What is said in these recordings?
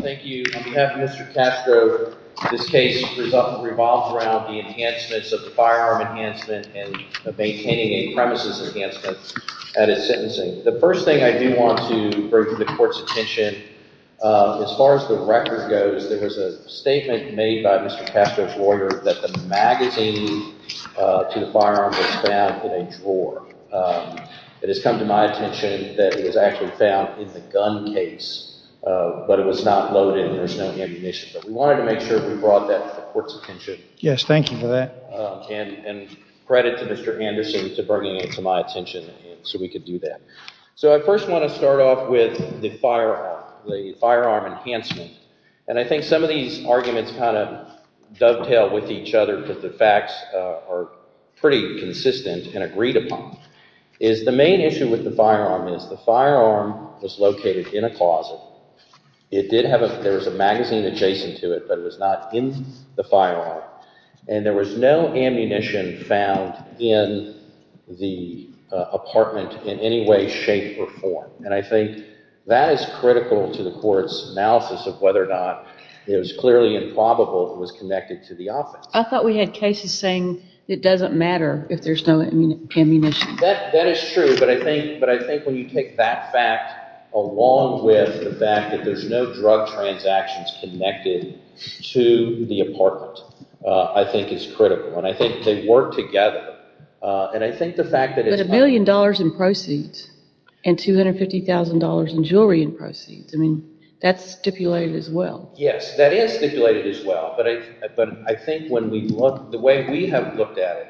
Thank you on behalf of Mr. Castro. This case revolves around the enhancements of the firearm enhancement and maintaining a premises enhancement at its sentencing. The first thing I do want to bring to the court's attention, as far as the record goes, there was a statement made by Mr. Castro's lawyer that the magazine to the firearm was found in a drawer. It has come to my attention that it was actually found in the gun case, but it was not loaded and there was no ammunition. But we wanted to make sure we brought that to the court's attention. Yes, thank you for that. And credit to Mr. Anderson for bringing it to my attention so we could do that. So I first want to start off with the firearm enhancement. And I think some of these arguments kind of dovetail with each other, but the facts are pretty consistent and agreed upon. The main issue with the firearm is the firearm was located in a closet. There was a magazine adjacent to it, but it was not in the firearm. And there was no ammunition found in the apartment in any way, shape, or form. And I think that is critical to the court's analysis of whether or not it was clearly improbable it was connected to the office. I thought we had cases saying it doesn't matter if there's no ammunition. That is true, but I think when you take that fact along with the fact that there's no drug transactions connected to the apartment, I think is critical. And I think they work together. But a billion dollars in proceeds and $250,000 in jewelry and proceeds, that's stipulated as well. Yes, that is stipulated as well. But I think the way we have looked at it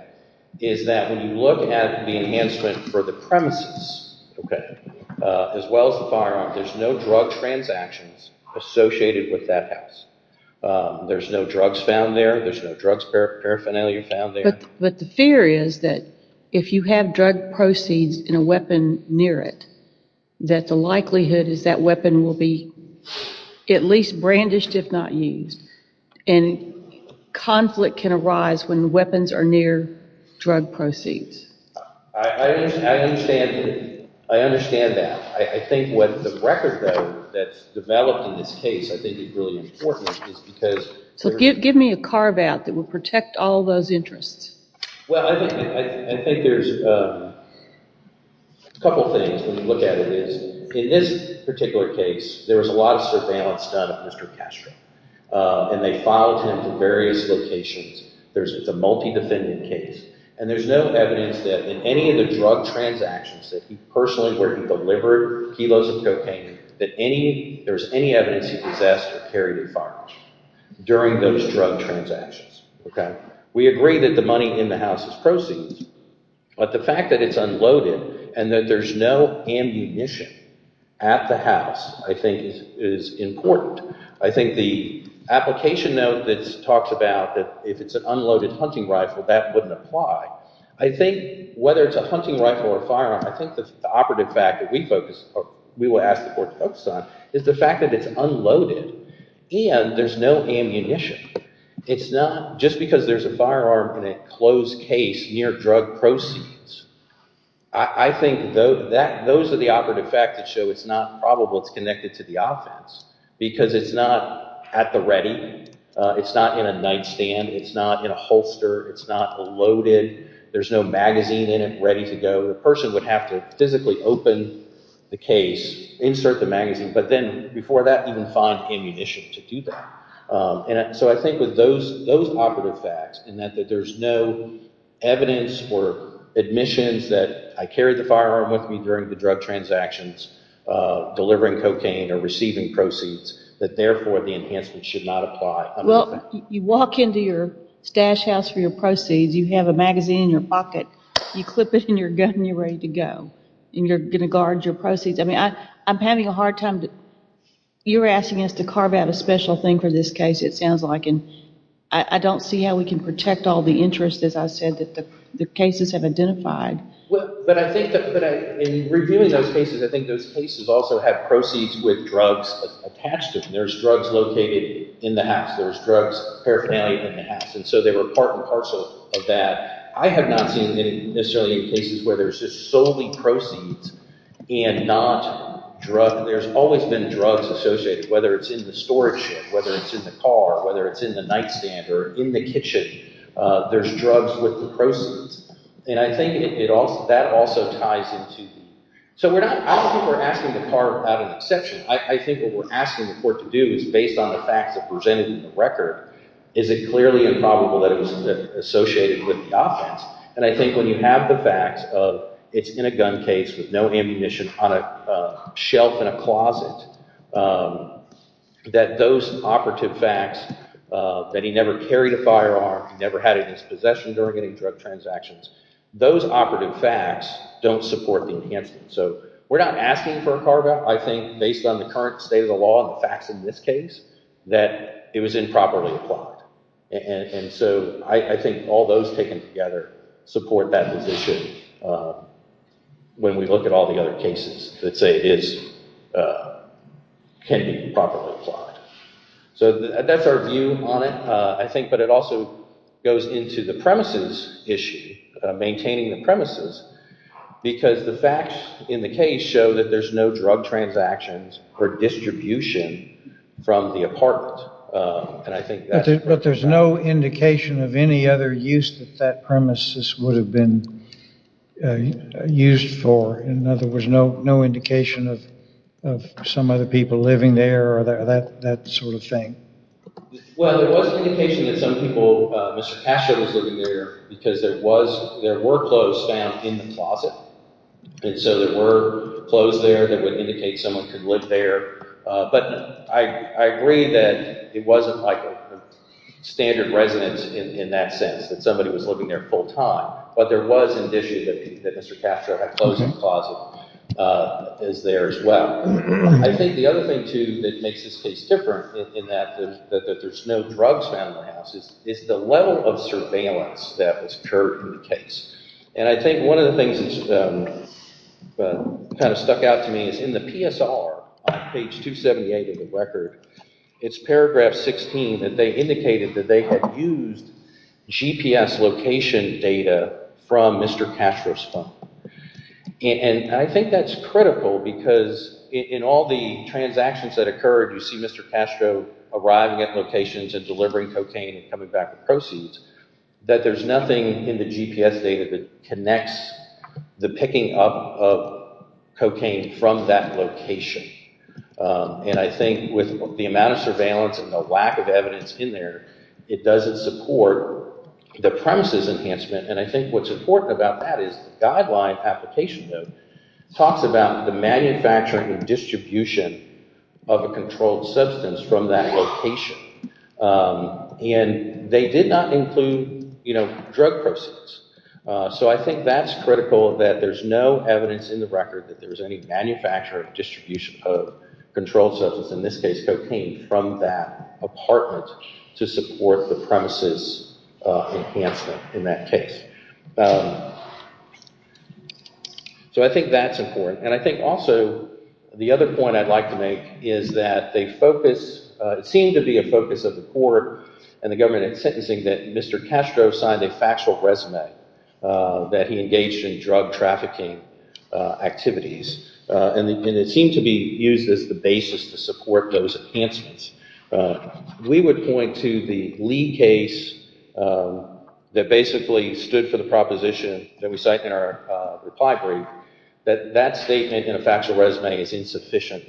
is that when you look at the enhancement for the premises as well as the firearm, there's no drug transactions associated with that house. There's no drugs found there. There's no drugs paraphernalia found there. But the fear is that if you have drug proceeds and a weapon near it, that the likelihood is that weapon will be at least brandished if not used. And conflict can arise when weapons are near drug proceeds. I understand that. I think what the record, though, that's developed in this case I think is really important is because— So give me a carve out that will protect all those interests. Well, I think there's a couple things when you look at it. One is, in this particular case, there was a lot of surveillance done of Mr. Castro. And they filed him for various locations. It's a multi-defendant case. And there's no evidence that in any of the drug transactions that he personally, where he delivered kilos of cocaine, that there's any evidence he possessed or carried a firearm during those drug transactions. We agree that the money in the house is proceeds. But the fact that it's unloaded and that there's no ammunition at the house I think is important. I think the application note that talks about that if it's an unloaded hunting rifle, that wouldn't apply. I think whether it's a hunting rifle or a firearm, I think the operative fact that we will ask the court to focus on is the fact that it's unloaded and there's no ammunition. It's not just because there's a firearm in a closed case near drug proceeds. I think those are the operative facts that show it's not probable it's connected to the offense. Because it's not at the ready. It's not in a nightstand. It's not in a holster. It's not loaded. There's no magazine in it ready to go. The person would have to physically open the case, insert the magazine, but then before that even find ammunition to do that. So I think with those operative facts and that there's no evidence or admissions that I carried the firearm with me during the drug transactions, delivering cocaine or receiving proceeds, that therefore the enhancement should not apply. Well, you walk into your stash house for your proceeds. You have a magazine in your pocket. You clip it in your gun and you're ready to go and you're going to guard your proceeds. I'm having a hard time. You were asking us to carve out a special thing for this case, it sounds like, and I don't see how we can protect all the interest, as I said, that the cases have identified. But I think that in reviewing those cases, I think those cases also have proceeds with drugs attached to them. There's drugs located in the house. There's drugs paraphernalia in the house, and so they were part and parcel of that. I have not seen any necessarily cases where there's just solely proceeds and not drugs. There's always been drugs associated, whether it's in the storage shed, whether it's in the car, whether it's in the nightstand or in the kitchen. There's drugs with the proceeds, and I think that also ties into the— So I don't think we're asking to carve out an exception. I think what we're asking the court to do is, based on the facts that are presented in the record, is it clearly improbable that it was associated with the offense? And I think when you have the facts of it's in a gun case with no ammunition on a shelf in a closet, that those operative facts, that he never carried a firearm, he never had a dispossession during any drug transactions, those operative facts don't support the enhancement. So we're not asking for a carve-out. I think based on the current state of the law and the facts in this case, that it was improperly applied. And so I think all those taken together support that position when we look at all the other cases that say it can be improperly applied. So that's our view on it, I think, but it also goes into the premises issue, maintaining the premises, because the facts in the case show that there's no drug transactions or distribution from the apartment. But there's no indication of any other use that that premises would have been used for. In other words, no indication of some other people living there or that sort of thing. Well, there was indication that some people, Mr. Castro was living there because there were clothes found in the closet. And so there were clothes there that would indicate someone could live there. But I agree that it wasn't like a standard residence in that sense, that somebody was living there full time. But there was an issue that Mr. Castro had clothes in the closet as there as well. Now, I think the other thing, too, that makes this case different in that there's no drugs found in the house is the level of surveillance that was occurred in the case. And I think one of the things that kind of stuck out to me is in the PSR, on page 278 of the record, it's paragraph 16 that they indicated that they had used GPS location data from Mr. Castro's phone. And I think that's critical because in all the transactions that occurred, you see Mr. Castro arriving at locations and delivering cocaine and coming back with proceeds, that there's nothing in the GPS data that connects the picking up of cocaine from that location. And I think with the amount of surveillance and the lack of evidence in there, it doesn't support the premises enhancement. And I think what's important about that is the guideline application, though, talks about the manufacturing and distribution of a controlled substance from that location. And they did not include drug proceeds. So I think that's critical that there's no evidence in the record that there's any manufactured distribution of controlled substance, in this case cocaine, from that apartment to support the premises enhancement in that case. So I think that's important. And I think also the other point I'd like to make is that it seemed to be a focus of the court and the government in sentencing that Mr. Castro signed a factual resume that he engaged in drug trafficking activities. And it seemed to be used as the basis to support those enhancements. We would point to the Lee case that basically stood for the proposition that we cite in our reply brief, that that statement in a factual resume is insufficient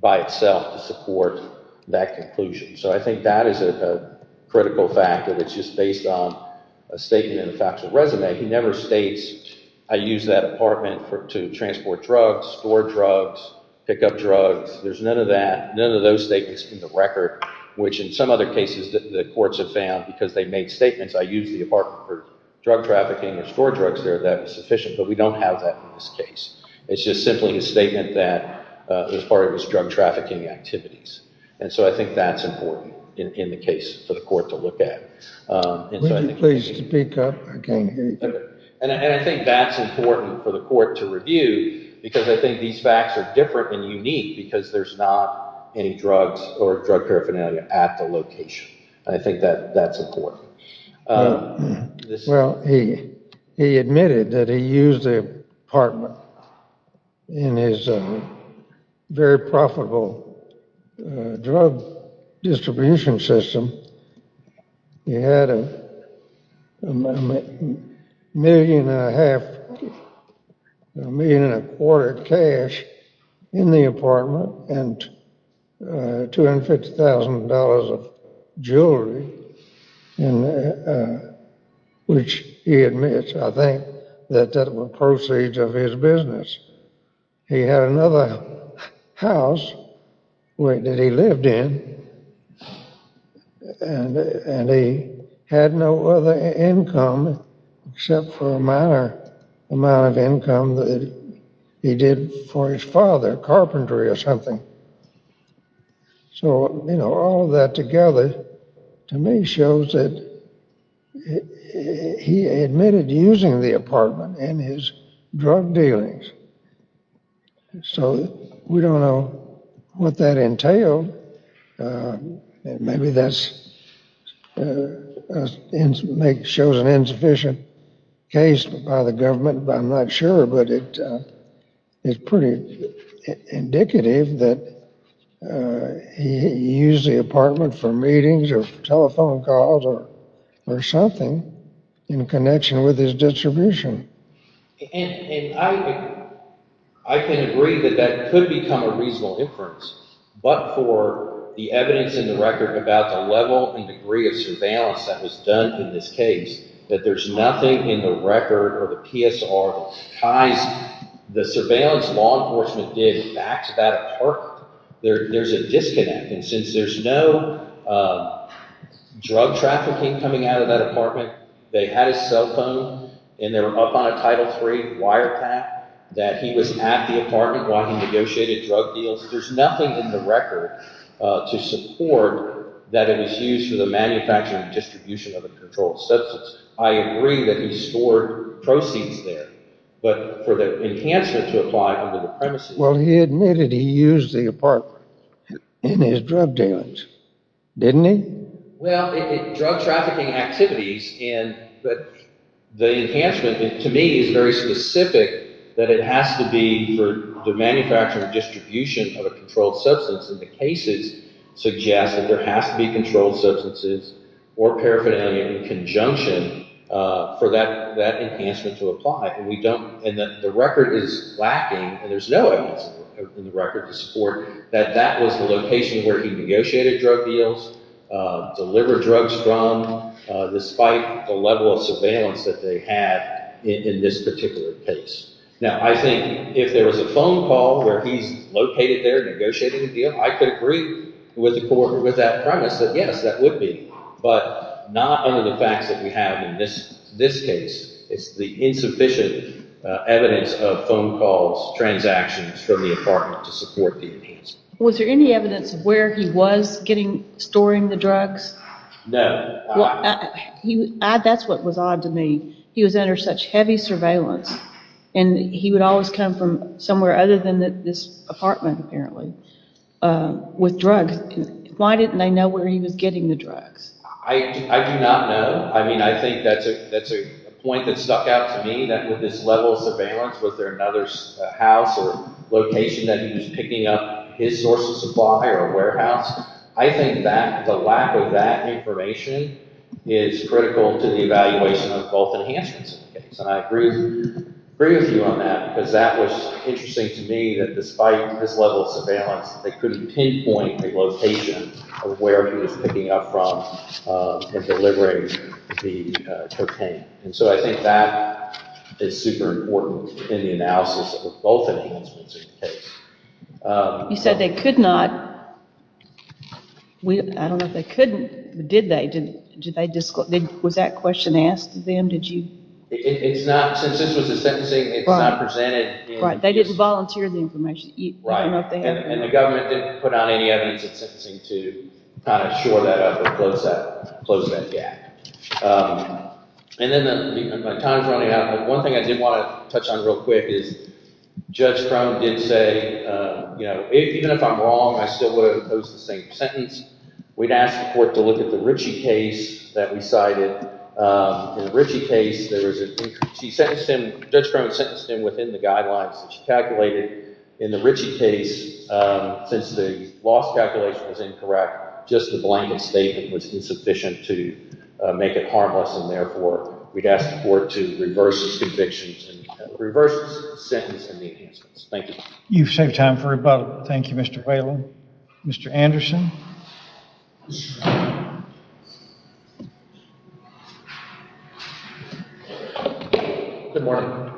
by itself to support that conclusion. So I think that is a critical fact that it's just based on a statement in a factual resume. He never states, I use that apartment to transport drugs, store drugs, pick up drugs. There's none of that. None of those statements in the record, which in some other cases the courts have found, because they made statements, I use the apartment for drug trafficking and store drugs there. That was sufficient. But we don't have that in this case. It's just simply a statement that was part of his drug trafficking activities. And so I think that's important in the case for the court to look at. Would you please speak up? I can't hear you. And I think that's important for the court to review, because I think these facts are different and unique, because there's not any drugs or drug paraphernalia at the location. I think that that's important. Well, he admitted that he used the apartment in his very profitable drug distribution system. He had a million and a quarter cash in the apartment and $250,000 of jewelry. Which he admits, I think, that that were proceeds of his business. He had another house that he lived in, and he had no other income except for a minor amount of income that he did for his father, carpentry or something. So all of that together to me shows that he admitted using the apartment in his drug dealings. So we don't know what that entailed. Maybe that shows an insufficient case by the government, but I'm not sure. But it's pretty indicative that he used the apartment for meetings or telephone calls or something in connection with his distribution. And I can agree that that could become a reasonable inference, but for the evidence in the record about the level and degree of surveillance that was done in this case, that there's nothing in the record or the PSR that ties the surveillance law enforcement did back to that apartment, there's a disconnect. And since there's no drug trafficking coming out of that apartment, they had his cell phone and they were up on a Title III wiretap that he was at the apartment while he negotiated drug deals. There's nothing in the record to support that it was used for the manufacturing and distribution of a controlled substance. I agree that he stored proceeds there, but for the enhancement to apply under the premises… Well, he admitted he used the apartment in his drug dealings, didn't he? Well, in drug trafficking activities, the enhancement to me is very specific that it has to be for the manufacturing and distribution of a controlled substance. And the cases suggest that there has to be controlled substances or paraphernalia in conjunction for that enhancement to apply. And we don't – and the record is lacking, and there's no evidence in the record to support that that was the location where he negotiated drug deals. Delivered drugs from, despite the level of surveillance that they had in this particular case. Now, I think if there was a phone call where he's located there negotiating a deal, I could agree with that premise that yes, that would be. But not under the facts that we have in this case. It's the insufficient evidence of phone calls, transactions from the apartment to support the enhancement. Was there any evidence of where he was storing the drugs? No. Well, that's what was odd to me. He was under such heavy surveillance, and he would always come from somewhere other than this apartment apparently with drugs. Why didn't they know where he was getting the drugs? I do not know. I mean, I think that's a point that stuck out to me, that with this level of surveillance, was there another house or location that he was picking up his source of supply or warehouse? I think that the lack of that information is critical to the evaluation of both enhancements. And I agree with you on that because that was interesting to me, that despite his level of surveillance, they couldn't pinpoint the location of where he was picking up from and delivering the cocaine. And so I think that is super important in the analysis of both enhancements in the case. You said they could not. I don't know if they couldn't, but did they? Was that question asked to them? It's not. Since this was a sentencing, it's not presented. Right. They didn't volunteer the information. Right. And the government didn't put out any evidence in sentencing to kind of shore that up and close that gap. And then my time is running out, but one thing I did want to touch on real quick is Judge Crone did say, even if I'm wrong, I still would have opposed the same sentence. We'd asked the court to look at the Ritchie case that we cited. In the Ritchie case, Judge Crone sentenced him within the guidelines that she calculated. In the Ritchie case, since the loss calculation was incorrect, just the blame and statement was insufficient to make it harmless, and therefore we'd ask the court to reverse the convictions and reverse the sentence in the enhancements. Thank you. You've saved time for rebuttal. Thank you, Mr. Whalen. Mr. Anderson? Good morning.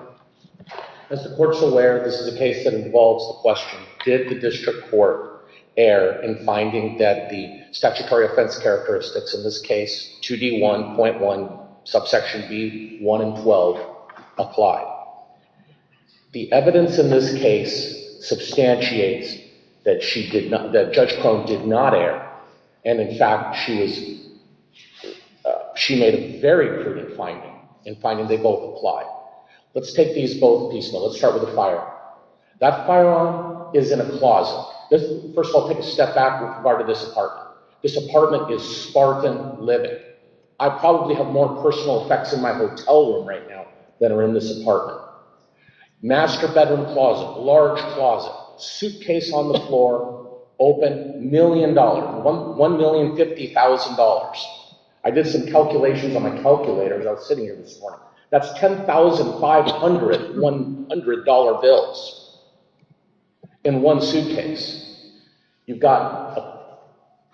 As the court's aware, this is a case that involves the question, did the district court err in finding that the statutory offense characteristics, in this case 2D1.1 subsection B1 and 12, apply? The evidence in this case substantiates that Judge Crone did not err, and in fact she made a very prudent finding in finding they both apply. Let's take these both piecemeal. Let's start with the firearm. That firearm is in a closet. First of all, take a step back with regard to this apartment. This apartment is spartan living. I probably have more personal effects in my hotel room right now than are in this apartment. Master bedroom closet, large closet, suitcase on the floor, open, $1,000,000, $1,050,000. I did some calculations on my calculator as I was sitting here this morning. That's $10,500, $100 bills in one suitcase. You've got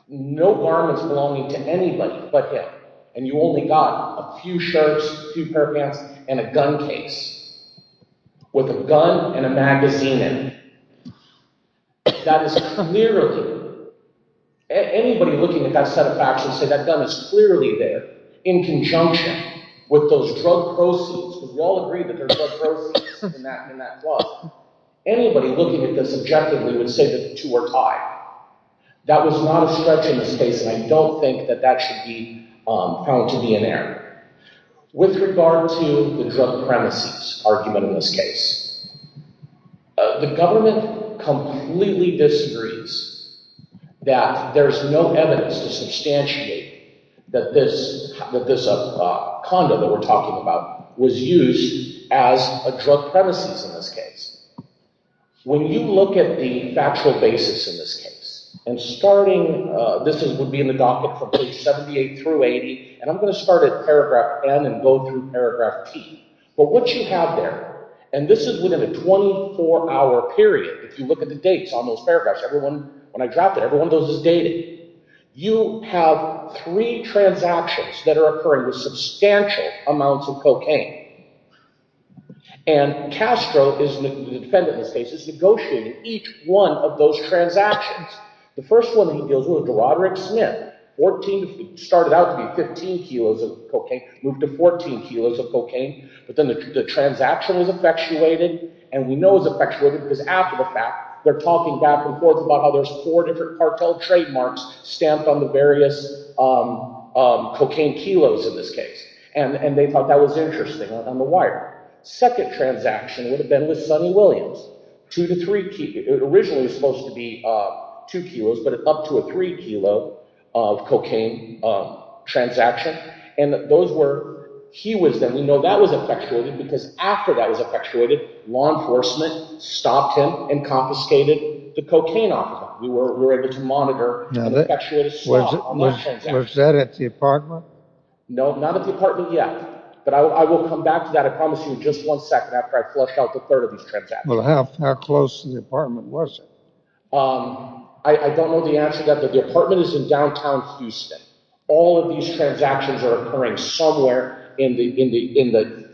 no garments belonging to anybody but him, and you only got a few shirts, a few pair of pants, and a gun case with a gun and a magazine in it. That is clearly—anybody looking at that set of facts would say that gun is clearly there in conjunction with those drug proceeds. Would you all agree that there's drug proceeds in that book? Anybody looking at this objectively would say that the two are tied. That was not a stretch in this case, and I don't think that that should be found to be an error. With regard to the drug premises argument in this case, the government completely disagrees that there's no evidence to substantiate that this condo that we're talking about was used as a drug premises in this case. When you look at the factual basis in this case, and starting— this would be in the docket from page 78 through 80, and I'm going to start at paragraph N and go through paragraph T. But what you have there—and this is within a 24-hour period. If you look at the dates on those paragraphs, when I dropped it, everyone knows it's dated. You have three transactions that are occurring with substantial amounts of cocaine, and Castro, the defendant in this case, has negotiated each one of those transactions. The first one he deals with is Roderick Smith. It started out to be 15 kilos of cocaine, moved to 14 kilos of cocaine, but then the transaction was effectuated, and we know it was effectuated because after the fact, they're talking back and forth about how there's four different cartel trademarks stamped on the various cocaine kilos in this case, and they thought that was interesting on the wire. Second transaction would have been with Sonny Williams. Two to three—originally it was supposed to be two kilos, but up to a three kilo of cocaine transaction, and those were—he was then—we know that was effectuated because after that was effectuated, law enforcement stopped him and confiscated the cocaine off of him. We were able to monitor and effectuate a small amount of transactions. Was that at the apartment? No, not at the apartment yet, but I will come back to that, I promise you, in just one second after I flush out the third of these transactions. Well, how close to the apartment was it? I don't know the answer to that, but the apartment is in downtown Houston. All of these transactions are occurring somewhere in the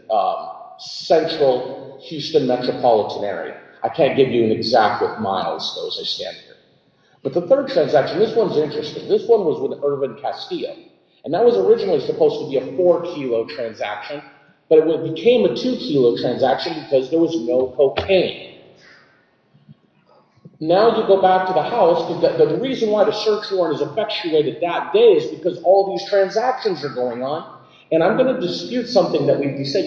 central Houston metropolitan area. I can't give you an exact what miles, though, as I stand here. But the third transaction, this one's interesting. This one was with Irvin Castillo, and that was originally supposed to be a four kilo transaction, but it became a two kilo transaction because there was no cocaine. Now you go back to the house. The reason why the search warrant is effectuated that day is because all these transactions are going on, and I'm going to dispute something that we said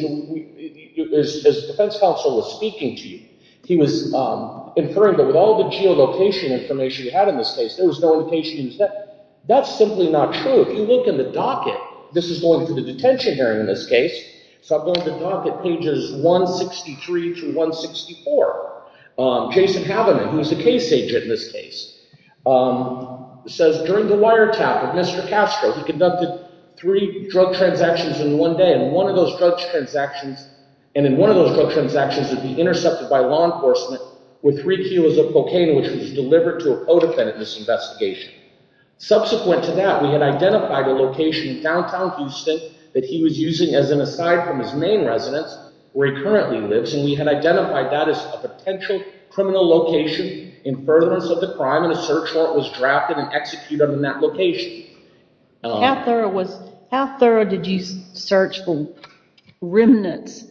as defense counsel was speaking to you. He was inferring that with all the geolocation information we had in this case, there was no indication he was—that's simply not true. If you look in the docket, this is going to the detention hearing in this case, so I'm going to docket pages 163 through 164. Jason Haberman, who's the case agent in this case, says during the wiretap of Mr. Castro, he conducted three drug transactions in one day, and one of those drug transactions would be intercepted by law enforcement with three kilos of cocaine, which was delivered to a co-defendant in this investigation. Subsequent to that, we had identified a location in downtown Houston that he was using as an aside from his main residence where he currently lives, and we had identified that as a potential criminal location in furtherance of the crime, and a search warrant was drafted and executed in that location. How thorough did you search the remnants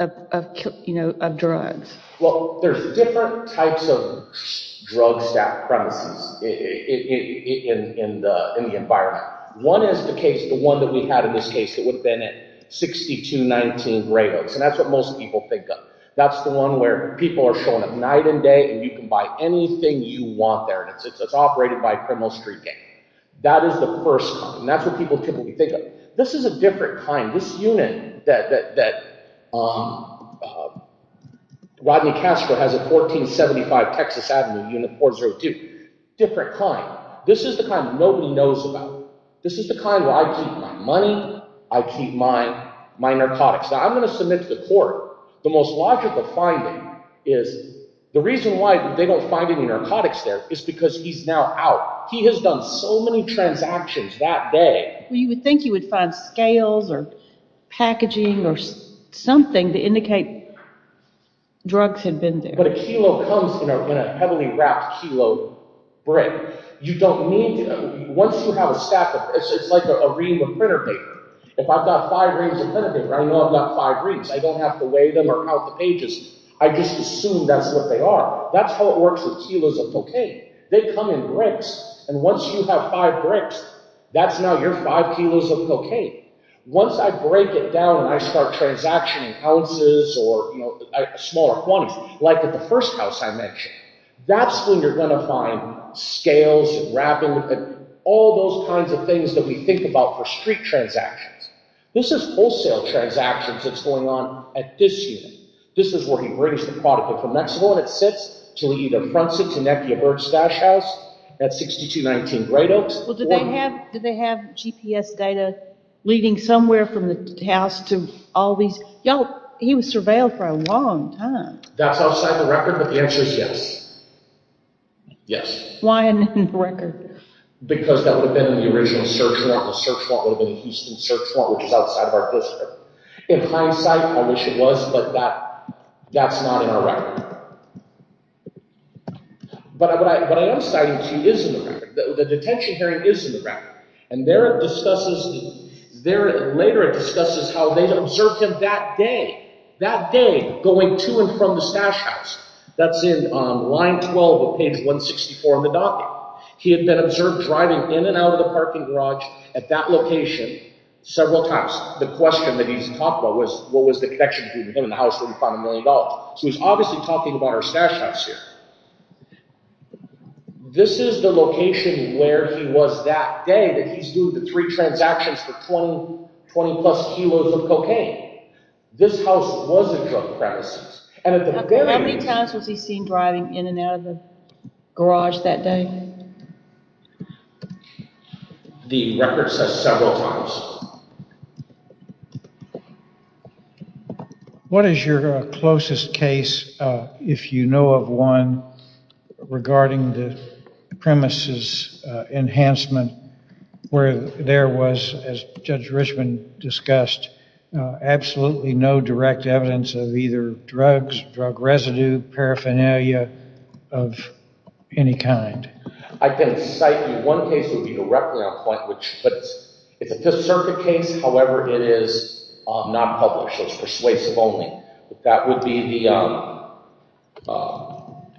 of drugs? Well, there's different types of drugs at premises. In the environment. One is the case—the one that we had in this case that would have been at 6219 Greyhooks, and that's what most people think of. That's the one where people are showing up night and day, and you can buy anything you want there, and it's operated by a criminal street gang. That is the first kind, and that's what people typically think of. This is a different kind. This unit that Rodney Castro has at 1475 Texas Avenue, Unit 402, different kind. This is the kind nobody knows about. This is the kind where I keep my money, I keep my narcotics. Now, I'm going to submit to the court the most logical finding is the reason why they don't find any narcotics there is because he's now out. He has done so many transactions that day. You would think you would find scales or packaging or something to indicate drugs had been there. But a kilo comes in a heavily wrapped kilo brick. You don't need—once you have a stack of—it's like a ream of printer paper. If I've got five reams of printer paper, I know I've got five reams. I don't have to weigh them or count the pages. I just assume that's what they are. That's how it works with kilos of cocaine. They come in bricks, and once you have five bricks, that's now your five kilos of cocaine. Once I break it down and I start transactioning ounces or smaller quantities, like at the first house I mentioned, that's when you're going to find scales and wrapping and all those kinds of things that we think about for street transactions. This is wholesale transactions that's going on at this unit. This is where he brings the product in from Mexico, and it sits to lead a front seat to Nepia Bird's stash house at 6219 Great Oaks. Well, do they have GPS data leading somewhere from the house to all these—y'all, he was surveilled for a long time. That's outside the record, but the answer is yes. Yes. Why isn't it in the record? Because that would have been in the original search warrant. The search warrant would have been the Houston search warrant, which is outside of our district. In hindsight, I wish it was, but that's not in our record. But what I am citing to you is in the record. The detention hearing is in the record, and there it discusses—later it discusses how they observed him that day, that day going to and from the stash house. That's in line 12 of page 164 in the document. He had been observed driving in and out of the parking garage at that location several times. Perhaps the question that he's talked about was what was the connection between him and the house where he found a million dollars. So he's obviously talking about our stash house here. This is the location where he was that day that he's doing the three transactions for 20-plus kilos of cocaine. This house was a drug premises. How many times was he seen driving in and out of the garage that day? The record says several times. What is your closest case, if you know of one, regarding the premises enhancement where there was, as Judge Richman discussed, absolutely no direct evidence of either drugs, drug residue, paraphernalia of any kind? I can cite you—one case would be directly on point, but it's a Fifth Circuit case. However, it is not published. It's persuasive only. That would be the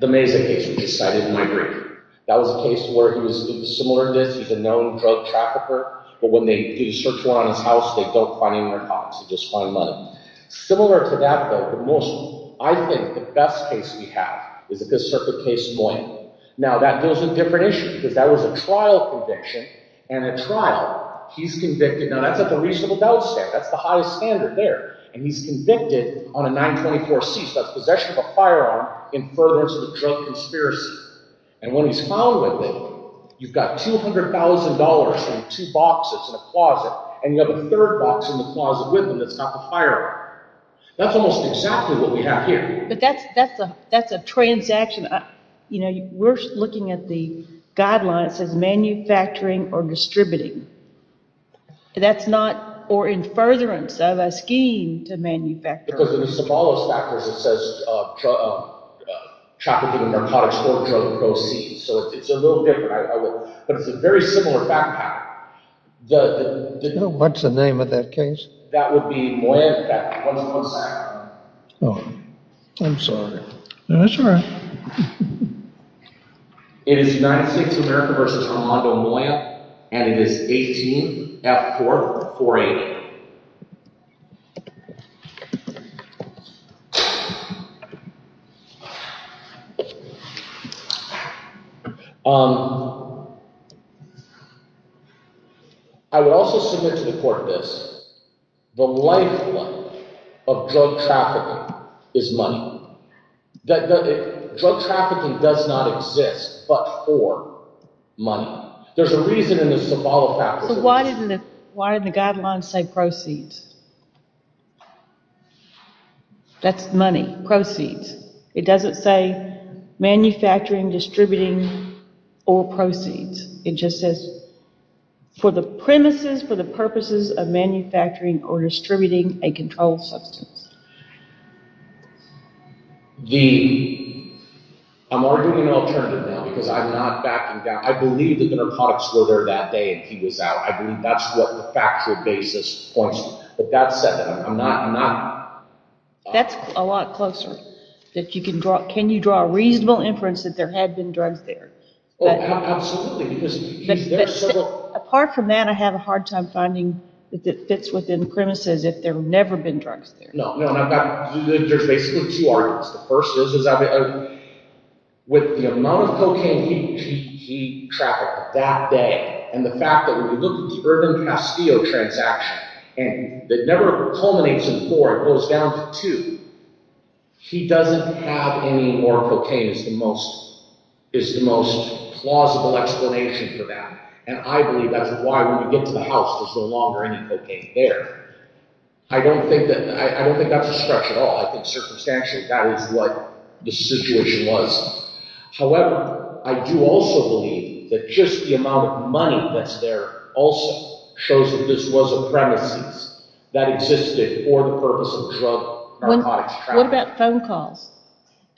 Mazay case we just cited in New York. That was a case where he was—it was similar to this. He's a known drug trafficker, but when they do search war on his house, they don't find any more cops. They just find money. Similar to that, though, but mostly, I think the best case we have is the Fifth Circuit case, Moyen. Now, that goes to a different issue because that was a trial conviction, and at trial, he's convicted. Now, that's a reasonable doubt stamp. That's the highest standard there. And he's convicted on a 924-C, so that's possession of a firearm in furtherance of a drug conspiracy. And when he's found with it, you've got $200,000 in two boxes in a closet, and you have a third box in the closet with him that's got the firearm. That's almost exactly what we have here. But that's a transaction. You know, we're looking at the guidelines that says manufacturing or distributing. That's not—or in furtherance of a scheme to manufacture. Because in the Somalis factors, it says trafficking in narcotics or drug proceeds. So it's a little different. But it's a very similar fact pattern. What's the name of that case? That would be Moyen, in fact. One second. Oh, I'm sorry. No, that's all right. It is United States of America v. Armando Moyen, and it is 18-F-4-4-8. I would also submit to the court this. The lifeblood of drug trafficking is money. Drug trafficking does not exist but for money. There's a reason in the Somali factors. So why didn't the guidelines say proceeds? That's money. Proceeds. It doesn't say manufacturing, distributing, or proceeds. It just says for the premises, for the purposes of manufacturing or distributing a controlled substance. I'm arguing an alternative now because I'm not backing down. I believe that the narcotics were there that day and he was out. I believe that's what the factual basis points to. But that said, I'm not— That's a lot closer. Can you draw a reasonable inference that there had been drugs there? Oh, absolutely, because there are several— Apart from that, I have a hard time finding that it fits within premises if there have never been drugs there. No, and I've got—there's basically two arguments. The first is, with the amount of cocaine he trafficked that day, and the fact that when you look at the Urban Castillo transaction, it never culminates in four. It goes down to two. He doesn't have any more cocaine is the most plausible explanation for that. And I believe that's why when we get to the house, there's no longer any cocaine there. I don't think that's a stretch at all. I think circumstantially that is what the situation was. However, I do also believe that just the amount of money that's there also shows that this was a premises that existed for the purpose of drug narcotics trafficking. What about phone calls?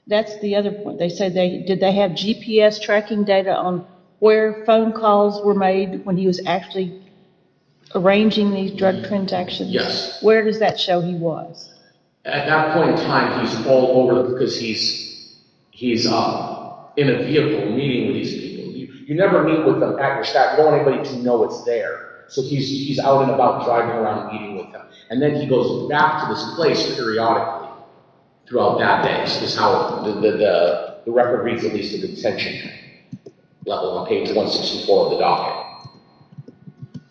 That's the other point. They say they—did they have GPS tracking data on where phone calls were made when he was actually arranging these drug transactions? Yes. Where does that show he was? At that point in time, he's all over it because he's in a vehicle meeting with these people. You never meet with them at your stop. You don't want anybody to know it's there. So he's out and about driving around and meeting with them. And then he goes back to this place periodically throughout that day, which is how the record reads at least at the detention level on page 164 of the docket.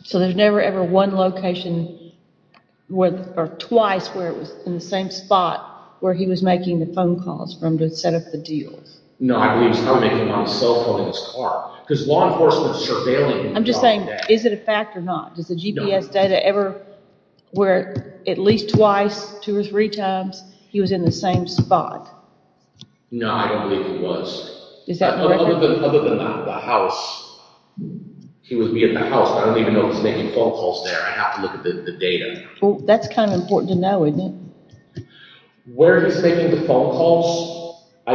So there's never ever one location where—or twice where it was in the same spot where he was making the phone calls from to set up the deal? No, I believe he was probably making them on his cell phone in his car. Because law enforcement is surveilling— I'm just saying, is it a fact or not? Does the GPS data ever—where at least twice, two or three times, he was in the same spot? No, I don't believe he was. Is that correct? Other than the house, he would be in the house. I don't even know if he's making phone calls there. I have to look at the data. Well, that's kind of important to know, isn't it? Where he's making the phone calls, I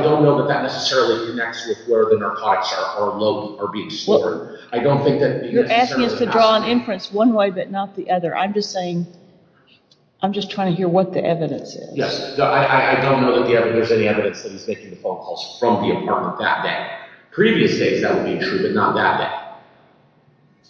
don't know that that necessarily connects with where the narcotics are being stored. You're asking us to draw an inference one way but not the other. I'm just saying—I'm just trying to hear what the evidence is. Yes, I don't know that there's any evidence that he's making the phone calls from the apartment that day. Previous days, that would be true, but not that day.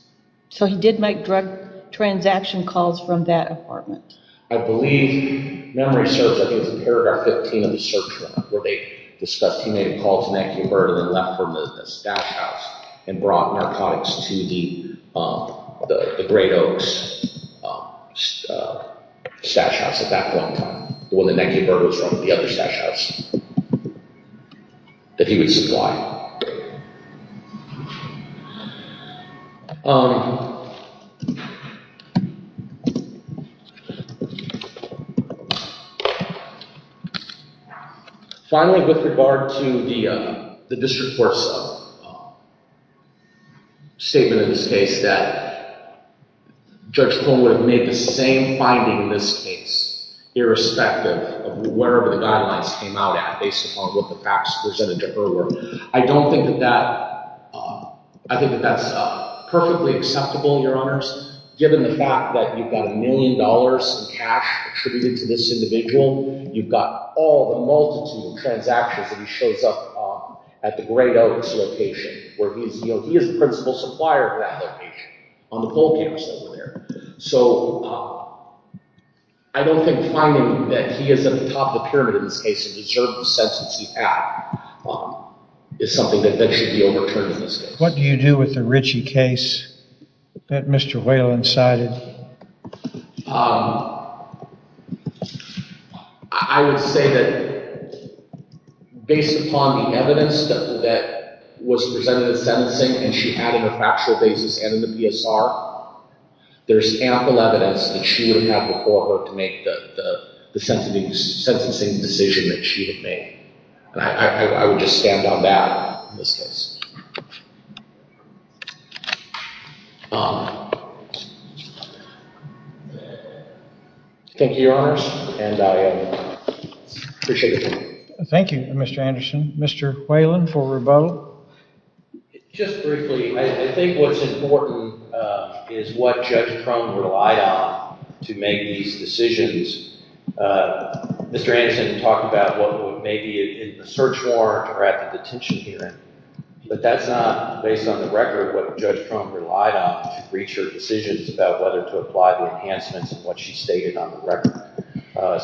So he did make drug transaction calls from that apartment? I believe—memory search, I think it was in paragraph 15 of the search warrant, where they discussed—he made a call to Nike and Bird and then left from the stash house and brought narcotics to the Great Oaks stash house at that point in time. The one that Nike and Bird was from, the other stash house that he would supply. Finally, with regard to the district court's statement in this case, that Judge Pullman would have made the same finding in this case, irrespective of wherever the guidelines came out at based upon what the facts presented to her were, I don't think that that—I think that that's perfectly acceptable, Your Honors. Given the fact that you've got a million dollars in cash attributed to this individual, you've got all the multitude of transactions that he shows up at the Great Oaks location, where he is the principal supplier for that location, on the pool tables over there. So I don't think finding that he is at the top of the pyramid in this case and deserves the sentence he had is something that should eventually be overturned in this case. What do you do with the Ritchie case that Mr. Whalen cited? Well, I would say that based upon the evidence that was presented in sentencing and she had in a factual basis and in the PSR, there's ample evidence that she would have had before her to make the sentencing decision that she had made. I would just stand on that in this case. Thank you, Your Honors, and I appreciate the time. Thank you, Mr. Anderson. Mr. Whalen for rebuttal. Just briefly, I think what's important is what Judge Crum relied on to make these decisions. Mr. Anderson talked about what would maybe be in the search warrant or at the detention hearing, but that's not based on the record what Judge Crum relied on to reach her decisions about whether to apply the enhancements and what she stated on the record.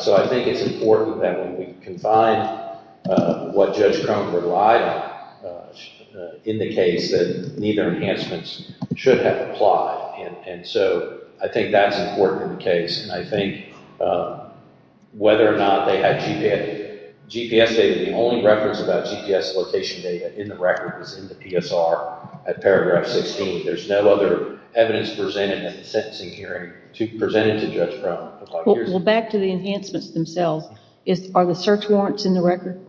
So I think it's important that when we confine what Judge Crum relied on in the case that neither enhancements should have applied. And so I think that's important in the case. And I think whether or not they had GPS data, the only reference about GPS location data in the record is in the PSR at paragraph 16. There's no other evidence presented at the sentencing hearing presented to Judge Crum. Well, back to the enhancements themselves, are the search warrants in the record?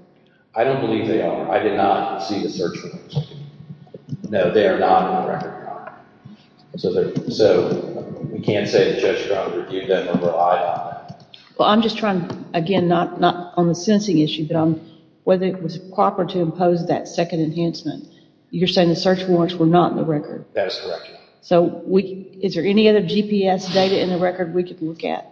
I don't believe they are. I did not see the search warrants. No, they are not in the record. So we can't say that Judge Crum reviewed them or relied on them. Well, I'm just trying, again, not on the sentencing issue, but whether it was proper to impose that second enhancement. You're saying the search warrants were not in the record. That is correct. So is there any other GPS data in the record we can look at?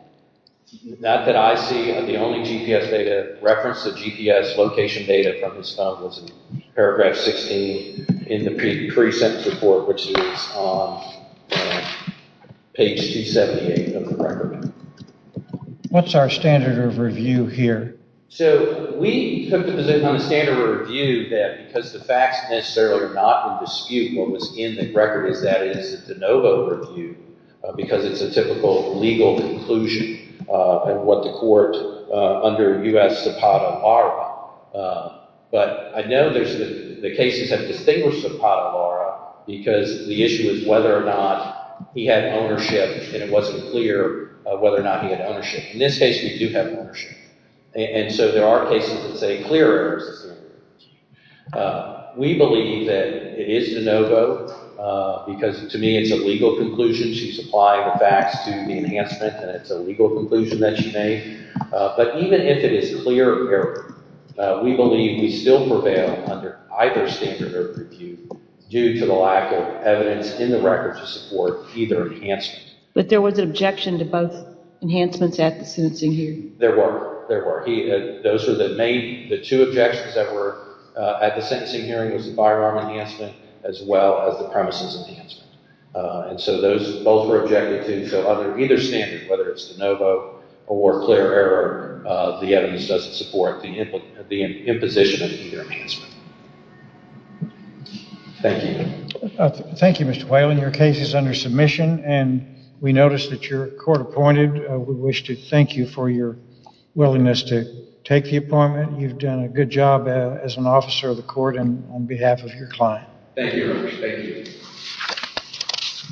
Not that I see. The only GPS data, reference of GPS location data from this file was in paragraph 16 in the pre-sentence report, which is on page 278 of the record. What's our standard of review here? So we took the position on the standard of review that because the facts necessarily are not in dispute, what was in the record is that it is a de novo review because it's a typical legal conclusion of what the court under U.S. Zapata are. But I know the cases have distinguished Zapata, Laura, because the issue is whether or not he had ownership, and it wasn't clear whether or not he had ownership. In this case, we do have ownership. And so there are cases that say clear errors. We believe that it is de novo because, to me, it's a legal conclusion. She's applying the facts to the enhancement, and it's a legal conclusion that she made. But even if it is clear error, we believe we still prevail under either standard of review due to the lack of evidence in the record to support either enhancement. But there was an objection to both enhancements at the sentencing hearing. There were. There were. The two objections that were at the sentencing hearing was the firearm enhancement as well as the premises enhancement. And so those both were objected to. So under either standard, whether it's de novo or clear error, the evidence doesn't support the imposition of either enhancement. Thank you. Thank you, Mr. Whalen. Your case is under submission, and we notice that you're court-appointed. We wish to thank you for your willingness to take the appointment. You've done a good job as an officer of the court and on behalf of your client. Thank you.